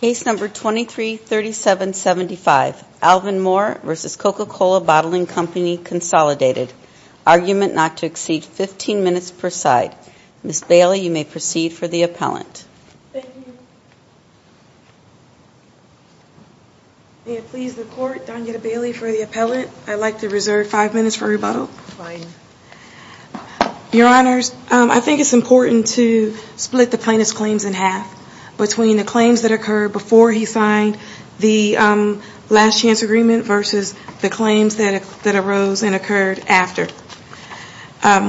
Consolidated. Argument not to exceed 15 minutes per side. Ms. Bailey, you may proceed for the appellant. Thank you. May it please the Court, Donna Bailey for the appellant. I'd like to reserve 5 minutes for rebuttal. Your Honors, I think it's important to split the plaintiff's claims in half between the claims that occurred before he signed the last chance agreement versus the claims that arose and occurred after.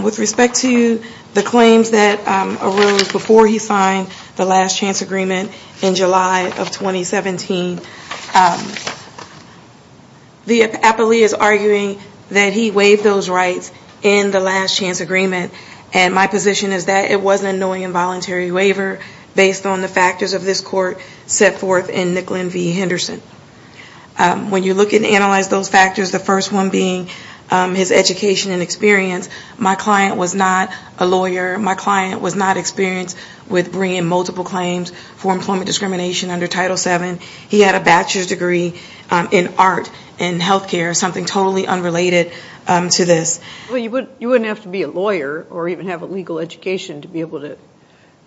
With respect to the claims that arose before he signed the last chance agreement in July of 2017, the appellee is arguing that he waived those rights in the last chance agreement. And my position is that it was an annoying involuntary waiver based on the factors of this court set forth in Nicklin v. Henderson. When you look and analyze those factors, the first one being his education and experience. My client was not a lawyer. My client was not experienced with bringing multiple claims for employment discrimination under Title VII. He had a bachelor's degree in art and healthcare, something totally unrelated to this. Well, you wouldn't have to be a lawyer or even have a legal education to be able to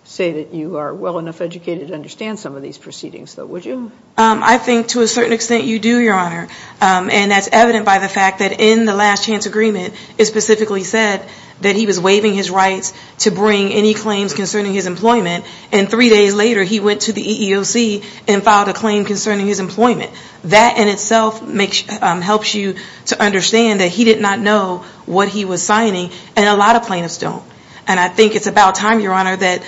say that you are well enough educated to understand some of these proceedings, though, would you? I think to a certain extent you do, Your Honor. And that's evident by the fact that in the last chance agreement, it specifically said that he was waiving his rights to bring any claims concerning his employment. And three days later, he went to the EEOC and filed a claim concerning his employment. That in itself helps you to understand that he did not know what he was signing and a lot of plaintiffs don't. And I think it's about time, Your Honor, that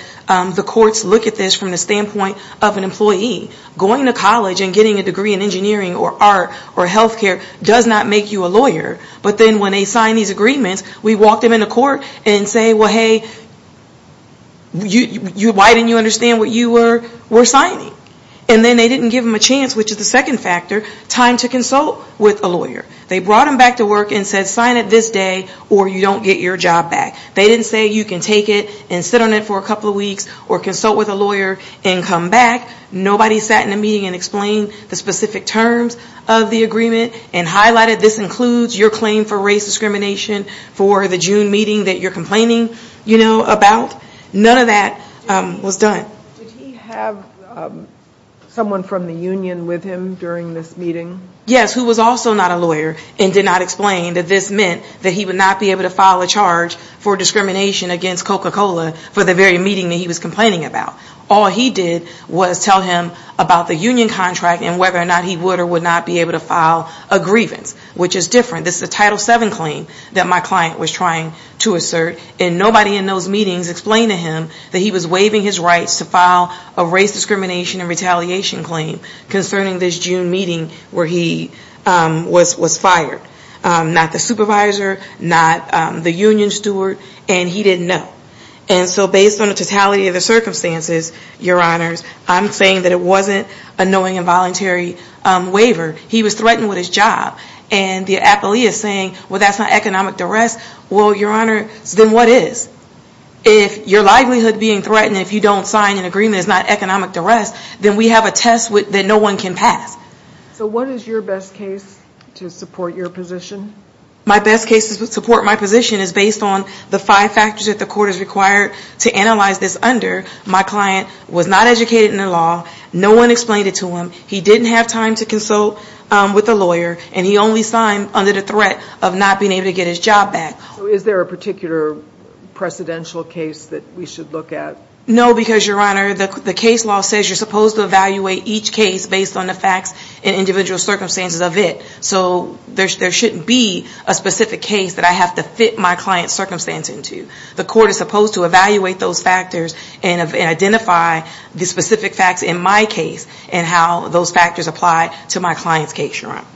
the courts look at this from the standpoint of an employee. Going to college and getting a degree in engineering or art or healthcare does not make you a lawyer. But then when they sign these agreements, we walk them into court and say, well, hey, why didn't you understand what you were signing? And then they didn't give him a chance, which is the second factor, time to consult with a lawyer. They brought him back to work and said sign it this day or you don't get your job back. They didn't say you can take it and sit on it for a couple of weeks or consult with a lawyer and come back. Nobody sat in a meeting and explained the specific terms of the agreement and highlighted this includes your claim for race discrimination for the June meeting that you're complaining about. None of that was done. Did he have someone from the union with him during this meeting? Yes, who was also not a lawyer and did not explain that this meant that he would not be able to file a charge for discrimination against Coca-Cola for the very meeting that he was complaining about. All he did was tell him about the union contract and whether or not he would or would not be able to file a grievance, which is different. This is a Title VII claim that my client was trying to assert. Nobody in those meetings explained to him that he was waiving his rights to file a race discrimination and retaliation claim concerning this June meeting where he was fired. Not the supervisor, not the union steward, and he didn't know. Based on the totality of the circumstances, your honors, I'm saying that it wasn't a knowing and voluntary waiver. He was threatened with his job. The appellee is saying, well, that's not economic duress. Well, your honors, then what is? If your livelihood being threatened if you don't sign an agreement is not economic duress, then we have a test that no one can pass. What is your best case to support your position? My best case to support my position is based on the five factors that the court has required to analyze this under. My client was not educated in the law. No one explained it to him. He didn't have time to consult with a lawyer, and he only signed under the threat of not being able to get his job back. So is there a particular precedential case that we should look at? No, because, your honor, the case law says you're supposed to evaluate each case based on the facts and individual circumstances of it. So there shouldn't be a specific case that I have to fit my client's circumstance into. The court is supposed to evaluate those factors and identify the specific facts in my case and how those factors apply to my client's case, your honor.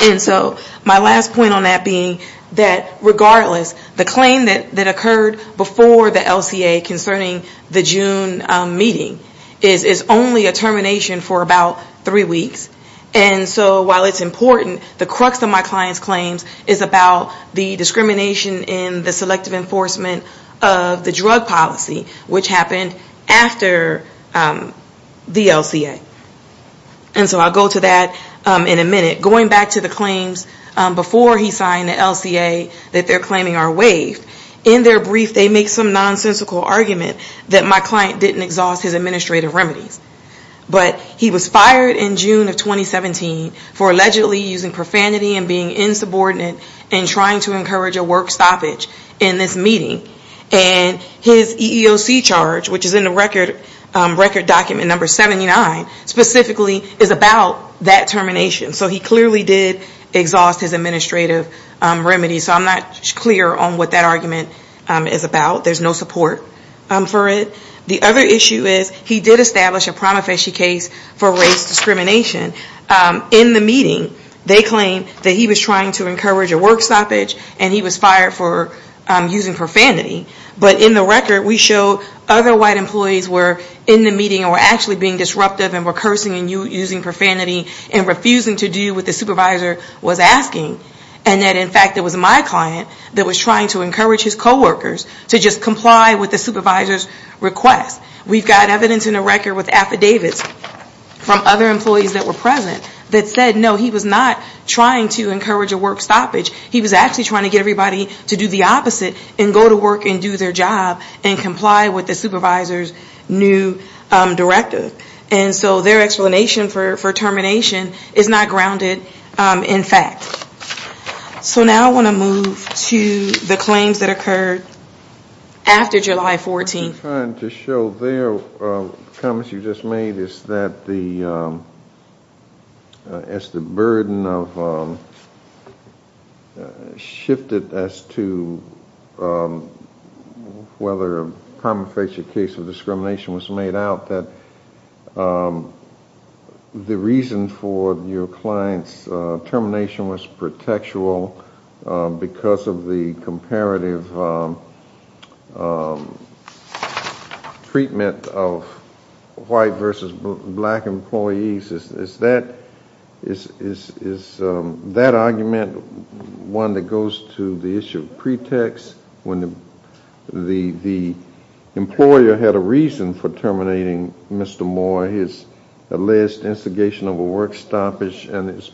And so my last point on that being that regardless, the claim that occurred before the LCA concerning the June meeting is only a termination for about three weeks. And so while it's important, the crux of my client's claims is about the discrimination in the selective enforcement of the drug policy, which happened after the LCA. And so I'll go to that in a minute. Going back to the claims before he signed the LCA that they're claiming are waived, in their brief they make some nonsensical argument that my client didn't exhaust his administrative remedies. But he was fired in June of 2017 for allegedly using profanity and being insubordinate and trying to encourage a work stoppage in this meeting. And his EEOC charge, which is in the record document number 79, specifically is about that termination. So he clearly did exhaust his administrative remedies. So I'm not clear on what that argument is about. There's no support for it. The other issue is he did establish a prima facie case for race discrimination. In the meeting, they claim that he was trying to encourage a work stoppage and he was fired for using profanity. But in the record, we show other white employees were in the meeting and were actually being disruptive and were cursing and using profanity and refusing to do what the supervisor was asking. And that, in fact, it was my client that was trying to encourage his coworkers to just comply with the supervisor's request. We've got evidence in the record with affidavits from other employees that were present that said, no, he was not trying to encourage a work stoppage. He was actually trying to get everybody to do the opposite and go to work and do their job and comply with the supervisor's new directive. And so their explanation for termination is not grounded in fact. So now I want to move to the claims that occurred after July 14th. What I'm trying to show there, comments you just made, is that as the burden shifted as to whether a prima facie case of discrimination was made out, that the reason for your client's termination was pretextual because of the comparative treatment of white versus black employees. Is that argument one that goes to the issue of pretext when the employer had a reason for terminating Mr. Moore, his alleged instigation of a work stoppage and his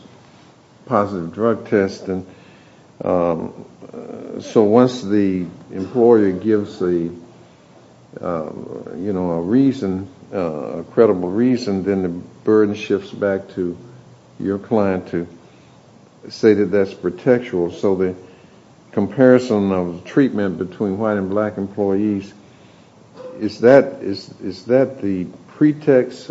positive drug testing? So once the employer gives a reason, a credible reason, then the burden shifts back to your client to say that that's pretextual. So the comparison of treatment between white and black employees, is that the pretext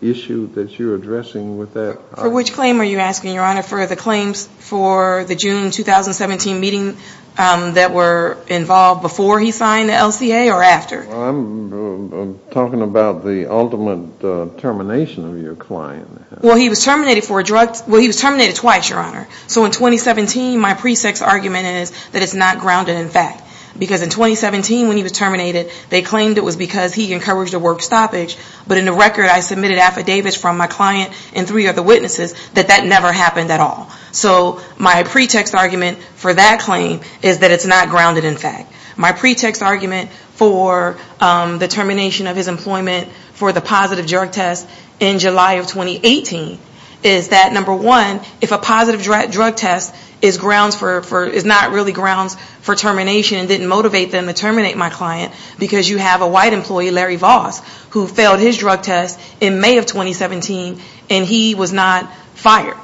issue that you're addressing with that? For which claim are you asking, Your Honor, for the claims for the June 2017 meeting that were involved before he signed the LCA or after? I'm talking about the ultimate termination of your client. Well he was terminated twice, Your Honor. So in 2017, my pretext argument is that it's not grounded in fact. Because in 2017 when he was terminated, they claimed it was because he encouraged a work stoppage. But in the record I submitted affidavits from my client and three other witnesses that that never happened at all. So my pretext argument for that claim is that it's not grounded in fact. My pretext argument for the termination of his employment for the positive drug test in July of 2018 is that number one, if a positive drug test is grounds for, is not really grounds for termination and didn't motivate them to terminate my client. Because you have a white employee, Larry Voss, who failed his drug test in May of 2017 and he was not fired.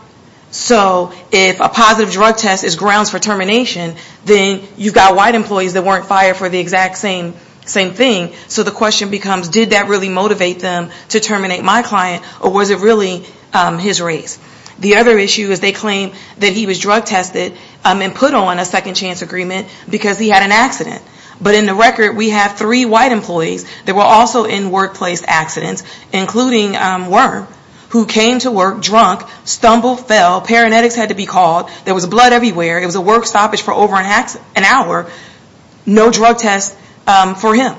So if a positive drug test is grounds for termination, then you've got white employees that weren't fired for the exact same thing. So the question becomes, did that really motivate them to terminate my client or was it really his race? The other issue is they claim that he was drug tested and put on a second chance agreement because he had an accident. But in the record we have three white employees that were also in workplace accidents, including Wyrm, who came to work drunk, stumbled, fell, paramedics had to be called, there was blood everywhere, it was a work stoppage for over an hour, no drug test for him.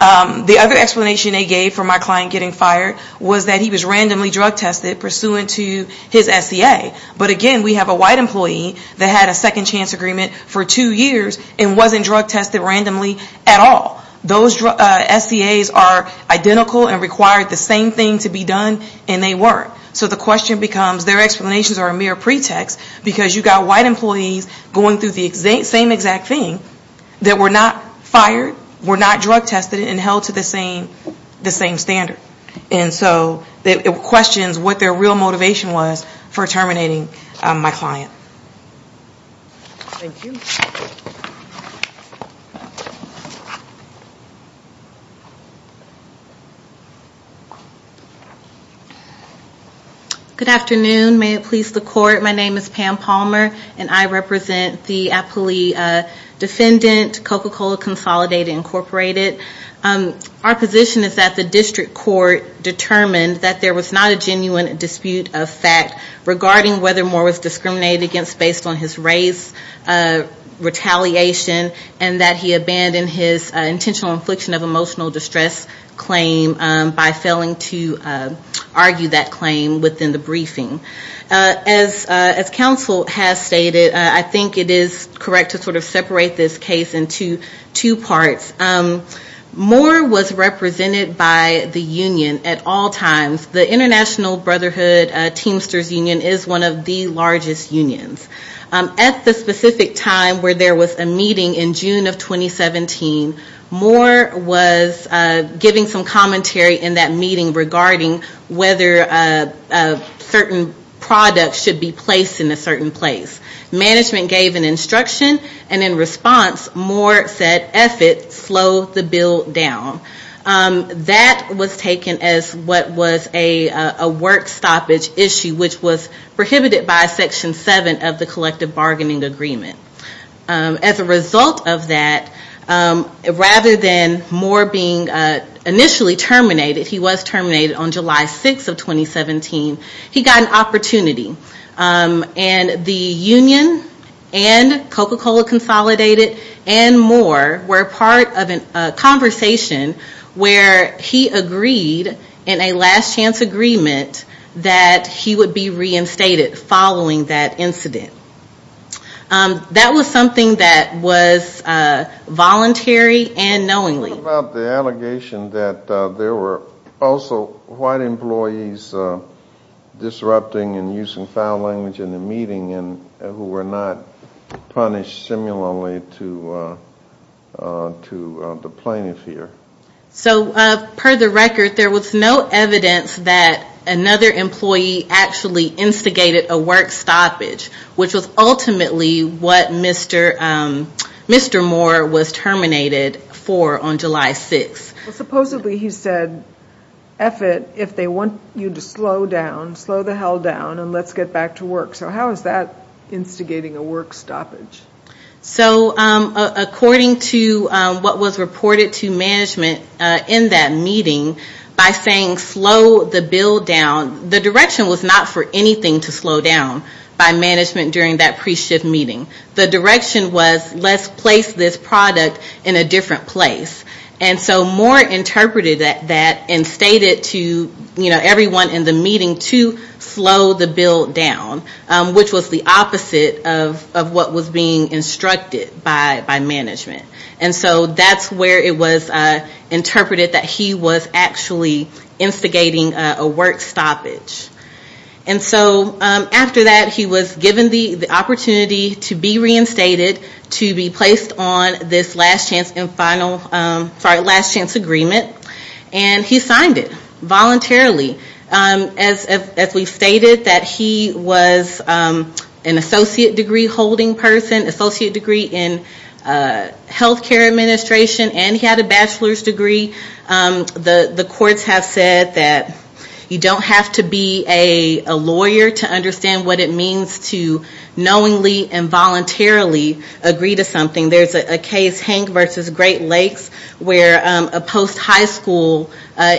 The other explanation they gave for my client getting fired was that he was randomly drug tested pursuant to his SCA. But again, we have a white employee that had a second chance agreement for two years and wasn't drug tested randomly at all. Those SCAs are identical and required the same thing to be done and they weren't. So the question becomes, their explanations are a mere pretext because you've got white employees going through the same exact thing that were not fired, were not drug tested and held to the same standard. And so it questions what their real motivation was for terminating my client. Thank you. Good afternoon, may it please the court, my name is Pam Palmer and I represent the appellee defendant, Coca-Cola Consolidated Incorporated. Our position is that the district court determined that there was not a genuine dispute of fact regarding whether Moore was discriminated against. Based on his race retaliation and that he abandoned his intentional infliction of emotional distress claim by failing to argue that claim within the briefing. As counsel has stated, I think it is correct to sort of separate this case into two parts. Moore was represented by the union at all times. The International Brotherhood Teamsters Union is one of the largest unions. At the specific time where there was a meeting in June of 2017, Moore was giving some commentary in that meeting regarding whether certain products should be placed in a certain place. Management gave an instruction and in response, Moore said, eff it, slow the bill down. That was taken as what was a work stoppage issue, which was prohibited by Section 7 of the Collective Bargaining Agreement. As a result of that, rather than Moore being initially terminated, he was terminated on July 6th of 2017, he got an opportunity. And the union and Coca-Cola Consolidated and Moore were part of a conversation in June of 2017. Where he agreed in a last chance agreement that he would be reinstated following that incident. That was something that was voluntary and knowingly. What about the allegation that there were also white employees disrupting and using foul language in the meeting and who were not punished similarly to the plaintiff here? So per the record, there was no evidence that another employee actually instigated a work stoppage, which was ultimately what Mr. Moore was terminated for on July 6th. Supposedly he said, eff it, if they want you to slow down, slow the hell down and let's get back to work. So how is that instigating a work stoppage? So according to what was reported to management in that meeting, by saying slow the bill down, the direction was not for anything to slow down by management during that pre-shift meeting. The direction was let's place this product in a different place. And so Moore interpreted that and stated to everyone in the meeting to slow the bill down. Which was the opposite of what was being instructed by management. And so that's where it was interpreted that he was actually instigating a work stoppage. And so after that he was given the opportunity to be reinstated, to be placed on this last chance agreement. And he signed it, voluntarily. As we stated, that he was an associate degree holding person, associate degree in healthcare administration, and he had a bachelor's degree. The courts have said that you don't have to be a lawyer to understand what it means to knowingly and voluntarily agree to something. There's a case, Hank versus Great Lakes, where a post high school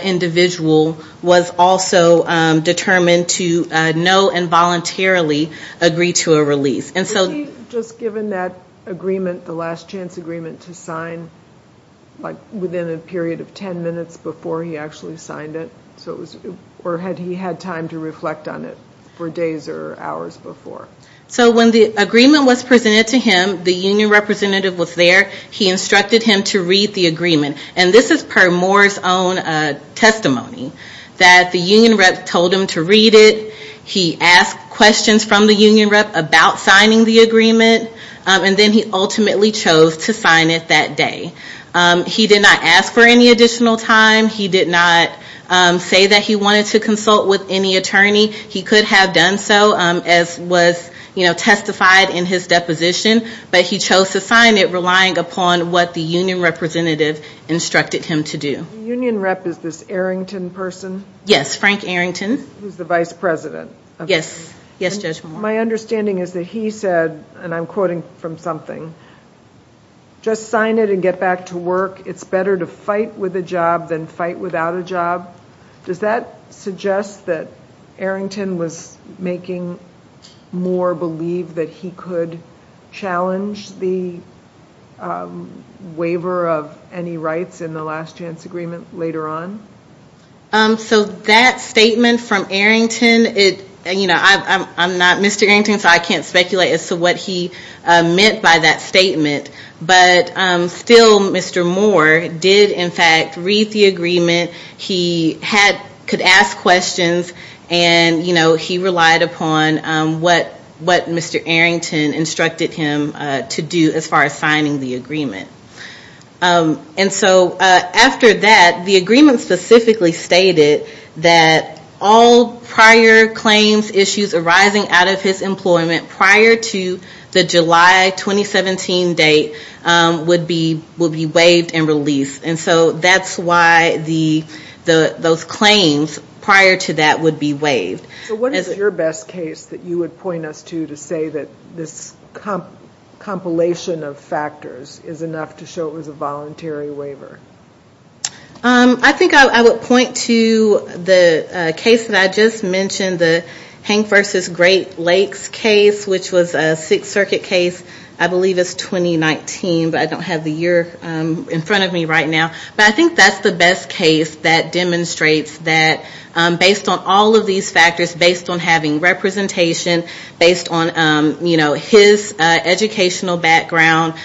individual was also determined to know and voluntarily agree to a release. And so he was given that agreement, the last chance agreement to sign within a period of ten minutes before he actually signed it. Or had he had time to reflect on it for days or hours before? So when the agreement was presented to him, the union representative was there. He instructed him to read the agreement. And this is per Moore's own testimony. That the union rep told him to read it. He asked questions from the union rep about signing the agreement. And then he ultimately chose to sign it that day. He did not ask for any additional time. He did not say that he wanted to consult with any attorney. He could have done so, as was testified in his deposition. But he chose to sign it relying upon what the union representative instructed him to do. The union rep is this Arrington person? Yes, Frank Arrington. Who's the vice president? My understanding is that he said, and I'm quoting from something, just sign it and get back to work. It's better to fight with a job than fight without a job. Does that suggest that Arrington was making Moore believe that he could challenge the waiver of any rights in the last chance agreement later on? So that statement from Arrington, I'm not Mr. Arrington so I can't speculate as to what he meant by that statement. But still Mr. Moore did in fact read the agreement. He could ask questions and he relied upon what Mr. Arrington instructed him to do as far as signing the agreement. And so after that, the agreement specifically stated that all prior claims, issues arising out of his employment prior to the July 2017 date would be waived and released. And so that's why those claims prior to that would be waived. So what is your best case that you would point us to to say that this compilation of factors is enough to get him out of jail? Or is it enough to show it was a voluntary waiver? I think I would point to the case that I just mentioned, the Hank versus Great Lakes case, which was a Sixth Circuit case, I believe it's 2019, but I don't have the year in front of me right now. But I think that's the best case that demonstrates that based on all of these factors, based on having representation, based on his educational background,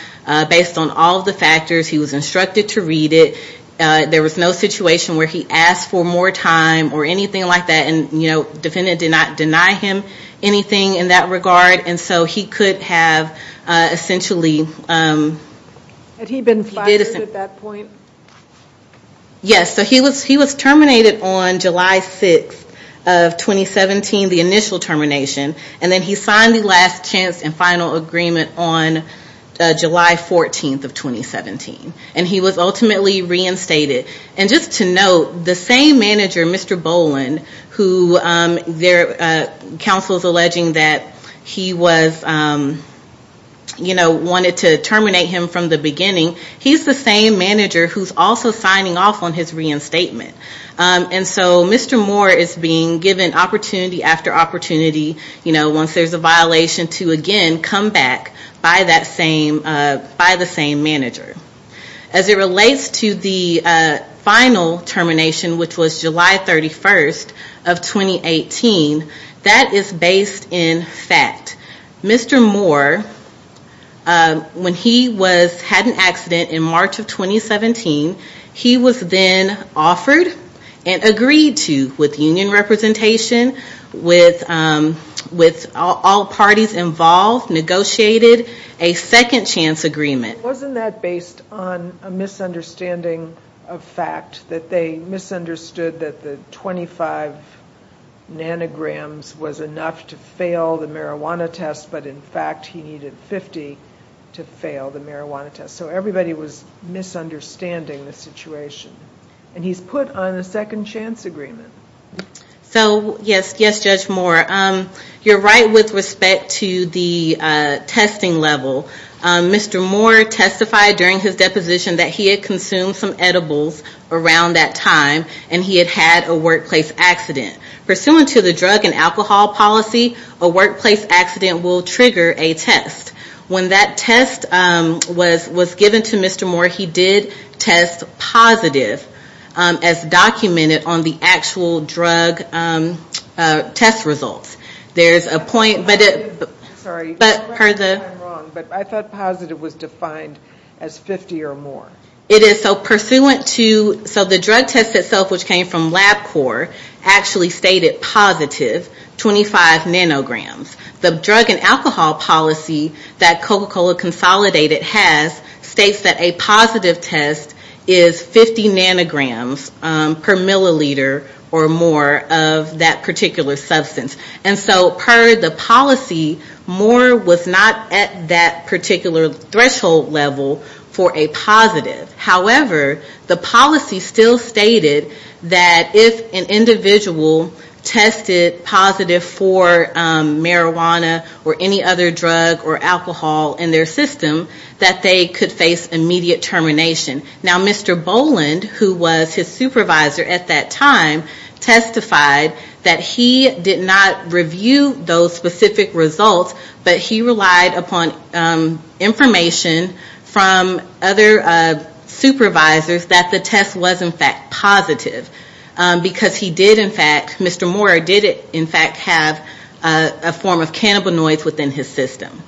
based on all of the factors, he was instructed to read it. There was no situation where he asked for more time or anything like that. And the defendant did not deny him anything in that regard. And so he could have essentially... Had he been fired at that point? Yes. So he was terminated on July 6th of 2017, the initial termination. And then he signed the last chance and final agreement on July 14th of 2017. And he was ultimately reinstated. And just to note, the same manager, Mr. Boland, whose counsel is alleging that he was, you know, wanted to terminate him from the beginning, he's the same manager who's also signing off on his reinstatement. And so Mr. Moore is being given opportunity after opportunity, you know, once there's a violation, to again come back by the same manager. As it relates to the final termination, which was July 31st of 2018, that is based in fact. Mr. Moore, when he had an accident in March of 2017, he was then offered and agreed to, with union representation, with all parties involved, negotiated a second chance agreement. Wasn't that based on a misunderstanding of fact? That they misunderstood that the 25 nanograms was enough to fail the marijuana test, but in fact he needed 50 to fail the marijuana test. So everybody was misunderstanding the situation. And he's put on a second chance agreement. So, yes, yes, Judge Moore. You're right with respect to the testing level. Mr. Moore testified during his deposition that he had consumed some edibles around that time and he had had a workplace accident. Pursuant to the drug and alcohol policy, a workplace accident will trigger a test. When that test was given to Mr. Moore, he did test positive, as documented on the actual drug test results. There's a point, but per the... I thought positive was defined as 50 or more. So the drug test itself, which came from LabCorp, actually stated positive 25 nanograms. The drug and alcohol policy that Coca-Cola Consolidated has states that a positive test is 50 nanograms per milliliter or more of that particular substance. And so per the policy, Moore was not at that particular threshold level for a positive. However, the policy still stated that if an individual tested positive for marijuana or any other drug or alcohol in their system, that they could face immediate termination. Now Mr. Boland, who was his supervisor at that time, testified that he did not review those specific results, but he relied upon information from other supervisors that the test was in fact positive. Because he did in fact, Mr. Moore did in fact have a form of cannabinoids within his system.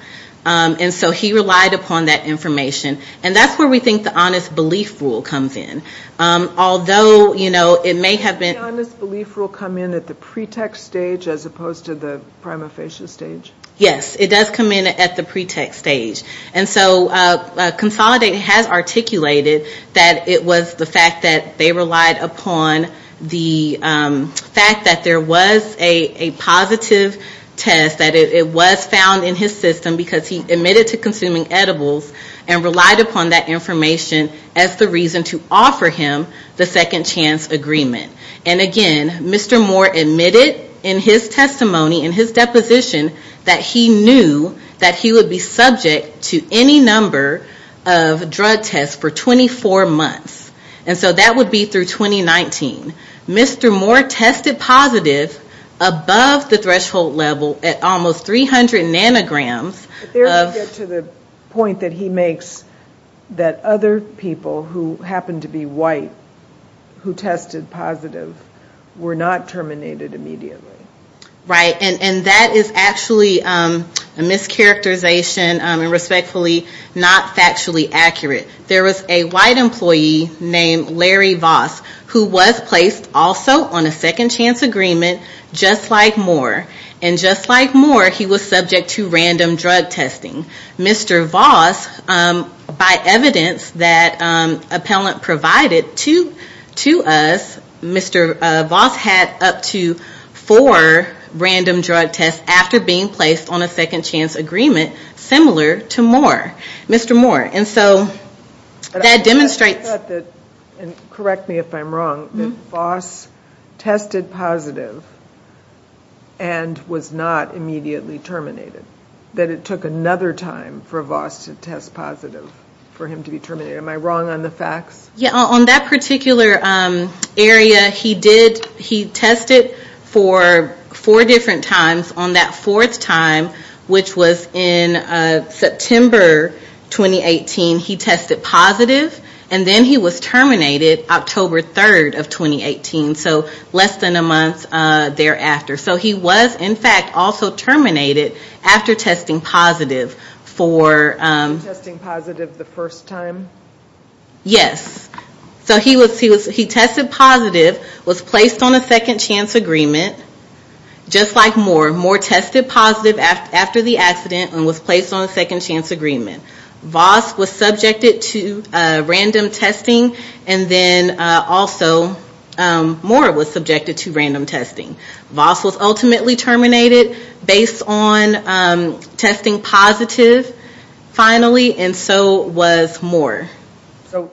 And so he relied upon that information. And that's where we think the honest belief rule comes in. Although, you know, it may have been... Yes, it does come in at the pretext stage. And so Consolidated has articulated that it was the fact that they relied upon the fact that there was a positive test, that it was found in his system because he admitted to consuming edibles and relied upon that information as the reason to offer him the second chance agreement. And again, Mr. Moore admitted in his testimony, in his deposition, that he knew that he would be subject to any number of drug tests for 24 months. And so that would be through 2019. Mr. Moore tested positive above the threshold level at almost 300 nanograms of... But there we get to the point that he makes that other people who happened to be white who tested positive were not terminated immediately. Right. And that is actually a mischaracterization and respectfully not factually accurate. There was a white employee named Larry Voss who was placed also on a second chance agreement just like Moore. And just like Moore, he was subject to random drug testing. Mr. Voss, by evidence that appellant provided to us, Mr. Voss had up to four random drug tests after being placed on a second chance agreement similar to Moore. Mr. Moore. And so that demonstrates... And correct me if I'm wrong, that Voss tested positive and was not immediately terminated. That it took another time for Voss to test positive for him to be terminated. Am I wrong on the facts? Yeah. On that particular area, he tested for four different times. On that fourth time, which was in September 2018, he tested positive and then he was terminated October 3rd of 2018. So less than a month thereafter. So he was in fact also terminated after testing positive for... Testing positive the first time? Yes. So he tested positive, was placed on a second chance agreement just like Moore. Moore tested positive after the accident and was placed on a second chance agreement. Voss was subjected to random testing and then also Moore was subjected to random testing. Voss was ultimately terminated based on testing positive finally and so was Moore. So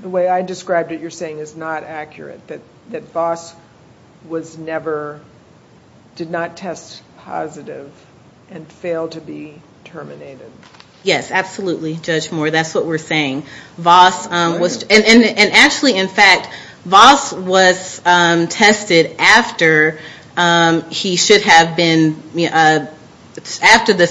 the way I described it, you're saying is not accurate. That Voss did not test positive and failed to be terminated. Yes. Absolutely, Judge Moore. That's what we're saying. And actually in fact, Voss was tested after the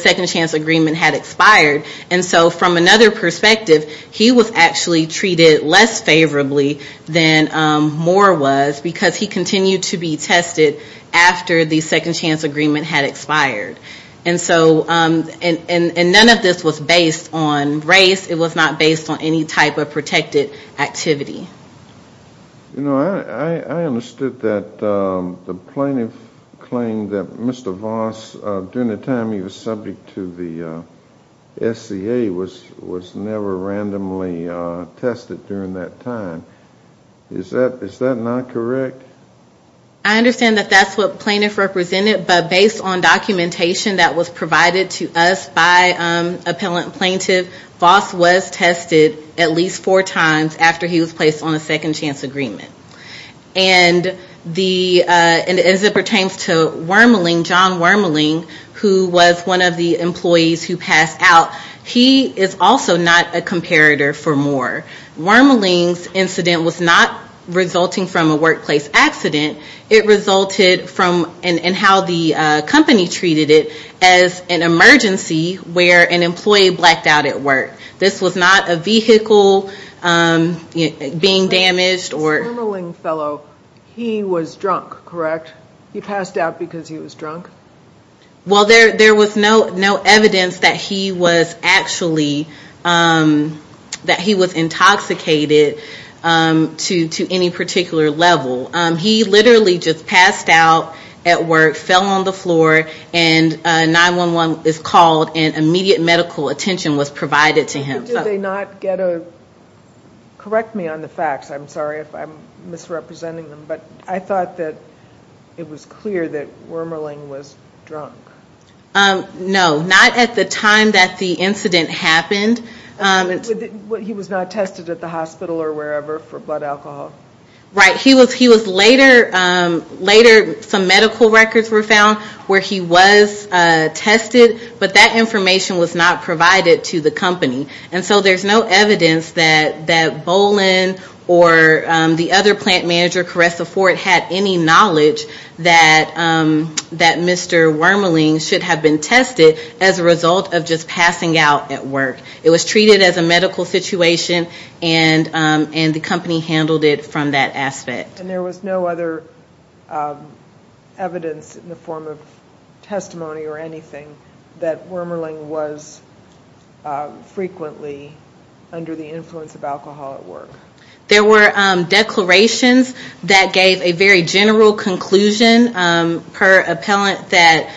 second chance agreement had expired. And so from another perspective, he was actually treated less favorably than Moore was because he continued to be tested after the second chance agreement had expired. And none of this was based on race. It was not based on any type of protected activity. You know, I understood that the plaintiff claimed that Mr. Voss during the time he was subject to the SCA was never randomly tested during that time. Is that not correct? I understand that that's what plaintiff represented, but based on documentation that was provided to us by appellant plaintiff, Voss was tested at least four times after he was placed on a second chance agreement. And as it pertains to Wormaling, John Wormaling, who was one of the employees who passed out, he is also not a comparator for Moore. Wormaling's incident was not resulting from a workplace accident. It resulted from and how the company treated it as an emergency where an employee blacked out at work. This was not a vehicle being damaged. Wormaling fellow, he was drunk, correct? He passed out because he was drunk? Well, there was no evidence that he was actually, that he was intoxicated to any particular level. He literally just passed out at work, fell on the floor, and 911 is called and immediate medical attention was provided to him. Did they not get a, correct me on the facts, I'm sorry if I'm misrepresenting them, but I thought that it was clear that Wormaling was drunk. No, not at the time that the incident happened. He was not tested at the hospital or wherever for blood alcohol? Right, he was later, later some medical records were found where he was tested, but that information was not provided to the company. And so there's no evidence that Bolin or the other plant manager, Caressa Ford, had any knowledge that Mr. Wormaling should have been tested as a result of just passing out at work. It was treated as a medical situation and the company handled it from that aspect. And there was no other evidence in the form of testimony or anything that Wormaling was frequently under the influence of alcohol at work? There were declarations that gave a very general conclusion per appellant that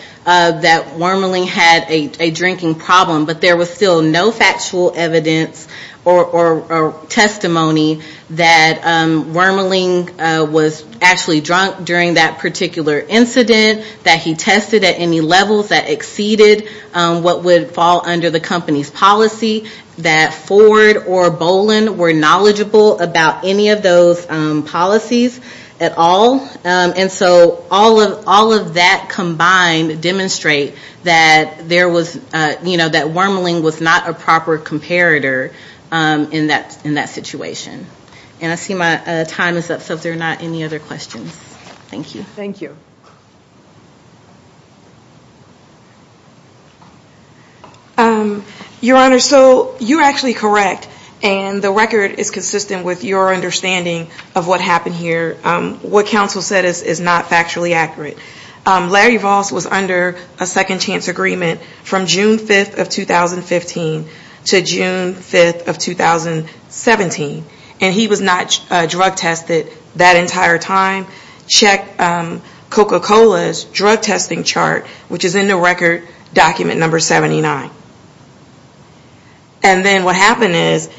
Wormaling had a drinking problem, but there was still no factual evidence or testimony that Wormaling was actually drunk during that particular incident, that he tested at any levels that exceeded what would fall under the company's policy, that Ford or Bolin were knowledgeable about any of those policies at all. And so all of that combined demonstrate that there was, you know, that Wormaling was not a proper comparator in that situation. And I see my time is up, so if there are not any other questions. Thank you. Your Honor, so you're actually correct and the record is consistent with your understanding of what happened here. What counsel said is not factually accurate. Larry Voss was under a second chance agreement from June 5th of 2015 to June 5th of 2017, and he was not drug tested that entire time. Check Coca-Cola's drug testing chart, which is in the record document number 79. And then what happened is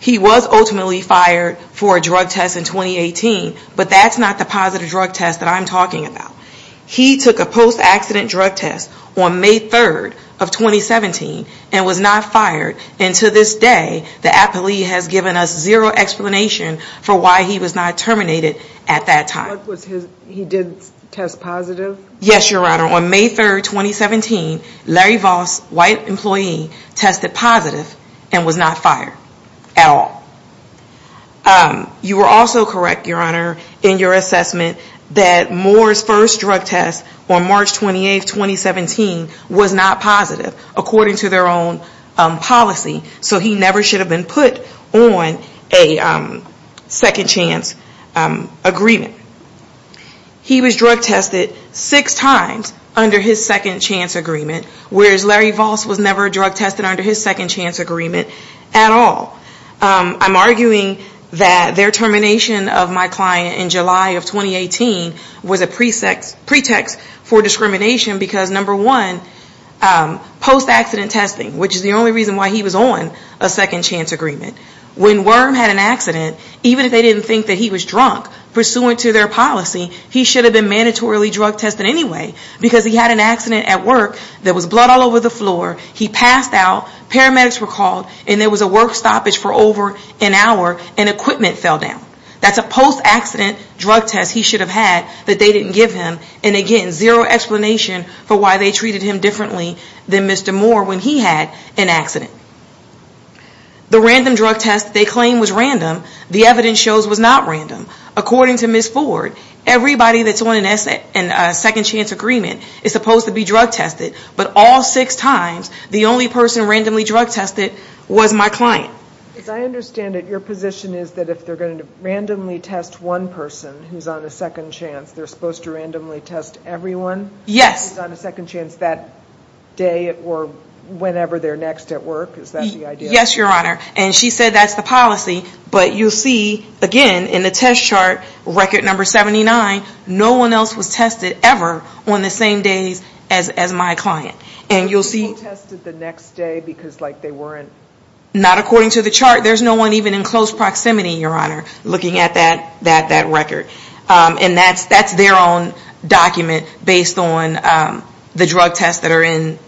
he was ultimately fired for a drug test in 2018, but that's not the positive drug test that I'm talking about. He took a post-accident drug test on May 3rd of 2017 and was not fired. And to this day, the appellee has given us zero explanation for why he was not terminated at that time. He did test positive? Yes, Your Honor. On May 3rd, 2017, Larry Voss, white employee, tested positive and was not fired at all. You were also correct, Your Honor, in your assessment that Moore's first drug test on March 28th, 2017 was not positive, according to their own policy, so he never should have been put on a second chance agreement. He was drug tested six times under his second chance agreement, whereas Larry Voss was never drug tested under his second chance agreement at all. I'm arguing that their termination of my client in July of 2018 was a pretext for discrimination, because number one, post-accident testing, which is the only reason why he was on a second chance agreement. When Worm had an accident, even if they didn't think that he was drunk, pursuant to their policy, he should have been mandatorily drug tested anyway, because he had an accident at work that was blood all over the floor, he passed out, paramedics were called, and there was a work stoppage for over an hour, and equipment fell down. That's a post-accident drug test he should have had that they didn't give him, and again, zero explanation for why they treated him differently than Mr. Moore when he had an accident. The random drug test they claimed was random, the evidence shows was not random. According to Ms. Ford, everybody that's on a second chance agreement is supposed to be drug tested, but all six times, the only person randomly drug tested was my client. As I understand it, your position is that if they're going to randomly test one person who's on a second chance, they're supposed to randomly test everyone who's on a second chance that day or whenever they're next at work? Is that the idea? Yes, Your Honor, and she said that's the policy, but you'll see, again, in the test chart, record number 79, no one else was tested ever on the same days as my client. So people tested the next day because they weren't... Not according to the chart. There's no one even in close proximity, Your Honor, looking at that record. And that's their own document based on the drug tests that are in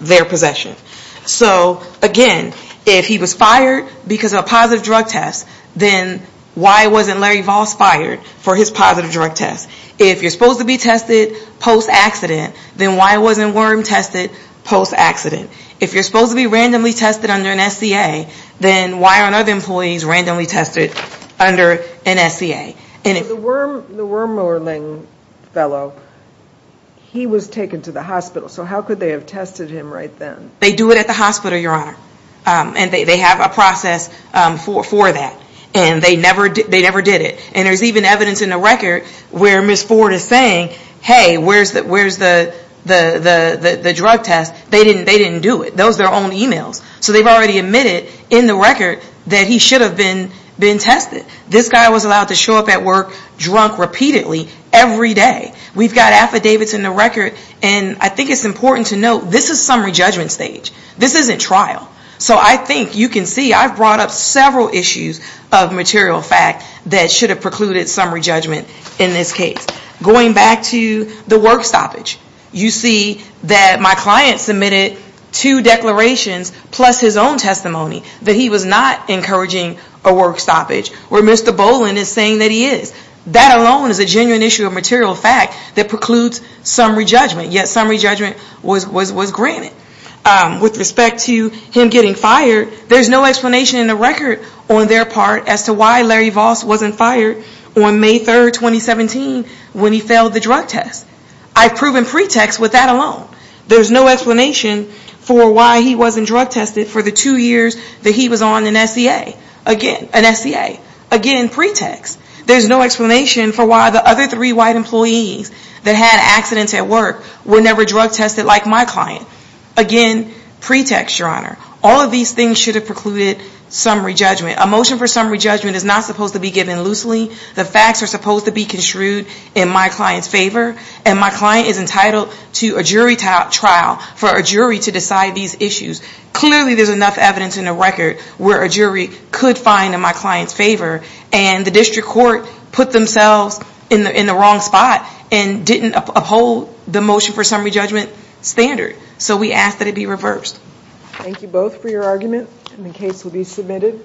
their possession. So again, if he was fired because of a positive drug test, then why wasn't Larry Voss fired for his positive drug test? If you're supposed to be tested post-accident, then why wasn't Wyrm tested post-accident? If you're supposed to be randomly tested under an SCA, then why aren't other employees randomly tested under an SCA? The Wyrm Lurling fellow, he was taken to the hospital, so how could they have tested him right then? They do it at the hospital, Your Honor, and they have a process for that, and they never did it. And there's even evidence in the record where Ms. Ford is saying, hey, where's the drug test? They didn't do it. Those are their own emails. So they've already admitted in the record that he should have been tested. This guy was allowed to show up at work drunk repeatedly every day. We've got affidavits in the record, and I think it's important to note this is summary judgment stage. This isn't trial. So I think you can see I've brought up several issues of material fact that should have precluded summary judgment in this case. Going back to the work stoppage, you see that my client submitted two declarations plus his own testimony that he was not encouraging a work stoppage, where Mr. Boland is saying that he is. That alone is a genuine issue of material fact that precludes summary judgment, yet summary judgment was granted. With respect to him getting fired, there's no explanation in the record on their part as to why Larry Voss wasn't fired on May 3rd, 2017, when he failed the drug test. I've proven pretext with that alone. There's no explanation for why he wasn't drug tested for the two years that he was on an SCA. Again, pretext. There's no explanation for why the other three white employees that had accidents at work were never drug tested like my client. Again, pretext, Your Honor. All of these things should have precluded summary judgment. A motion for summary judgment is not supposed to be given loosely. The facts are supposed to be construed in my client's favor, and my client is entitled to a jury trial for a jury to decide these issues. Clearly there's enough evidence in the record where a jury could find in my client's favor, and the district court put themselves in the wrong spot and didn't uphold the motion for summary judgment standard. So we ask that it be reversed. Thank you both for your argument, and the case will be submitted.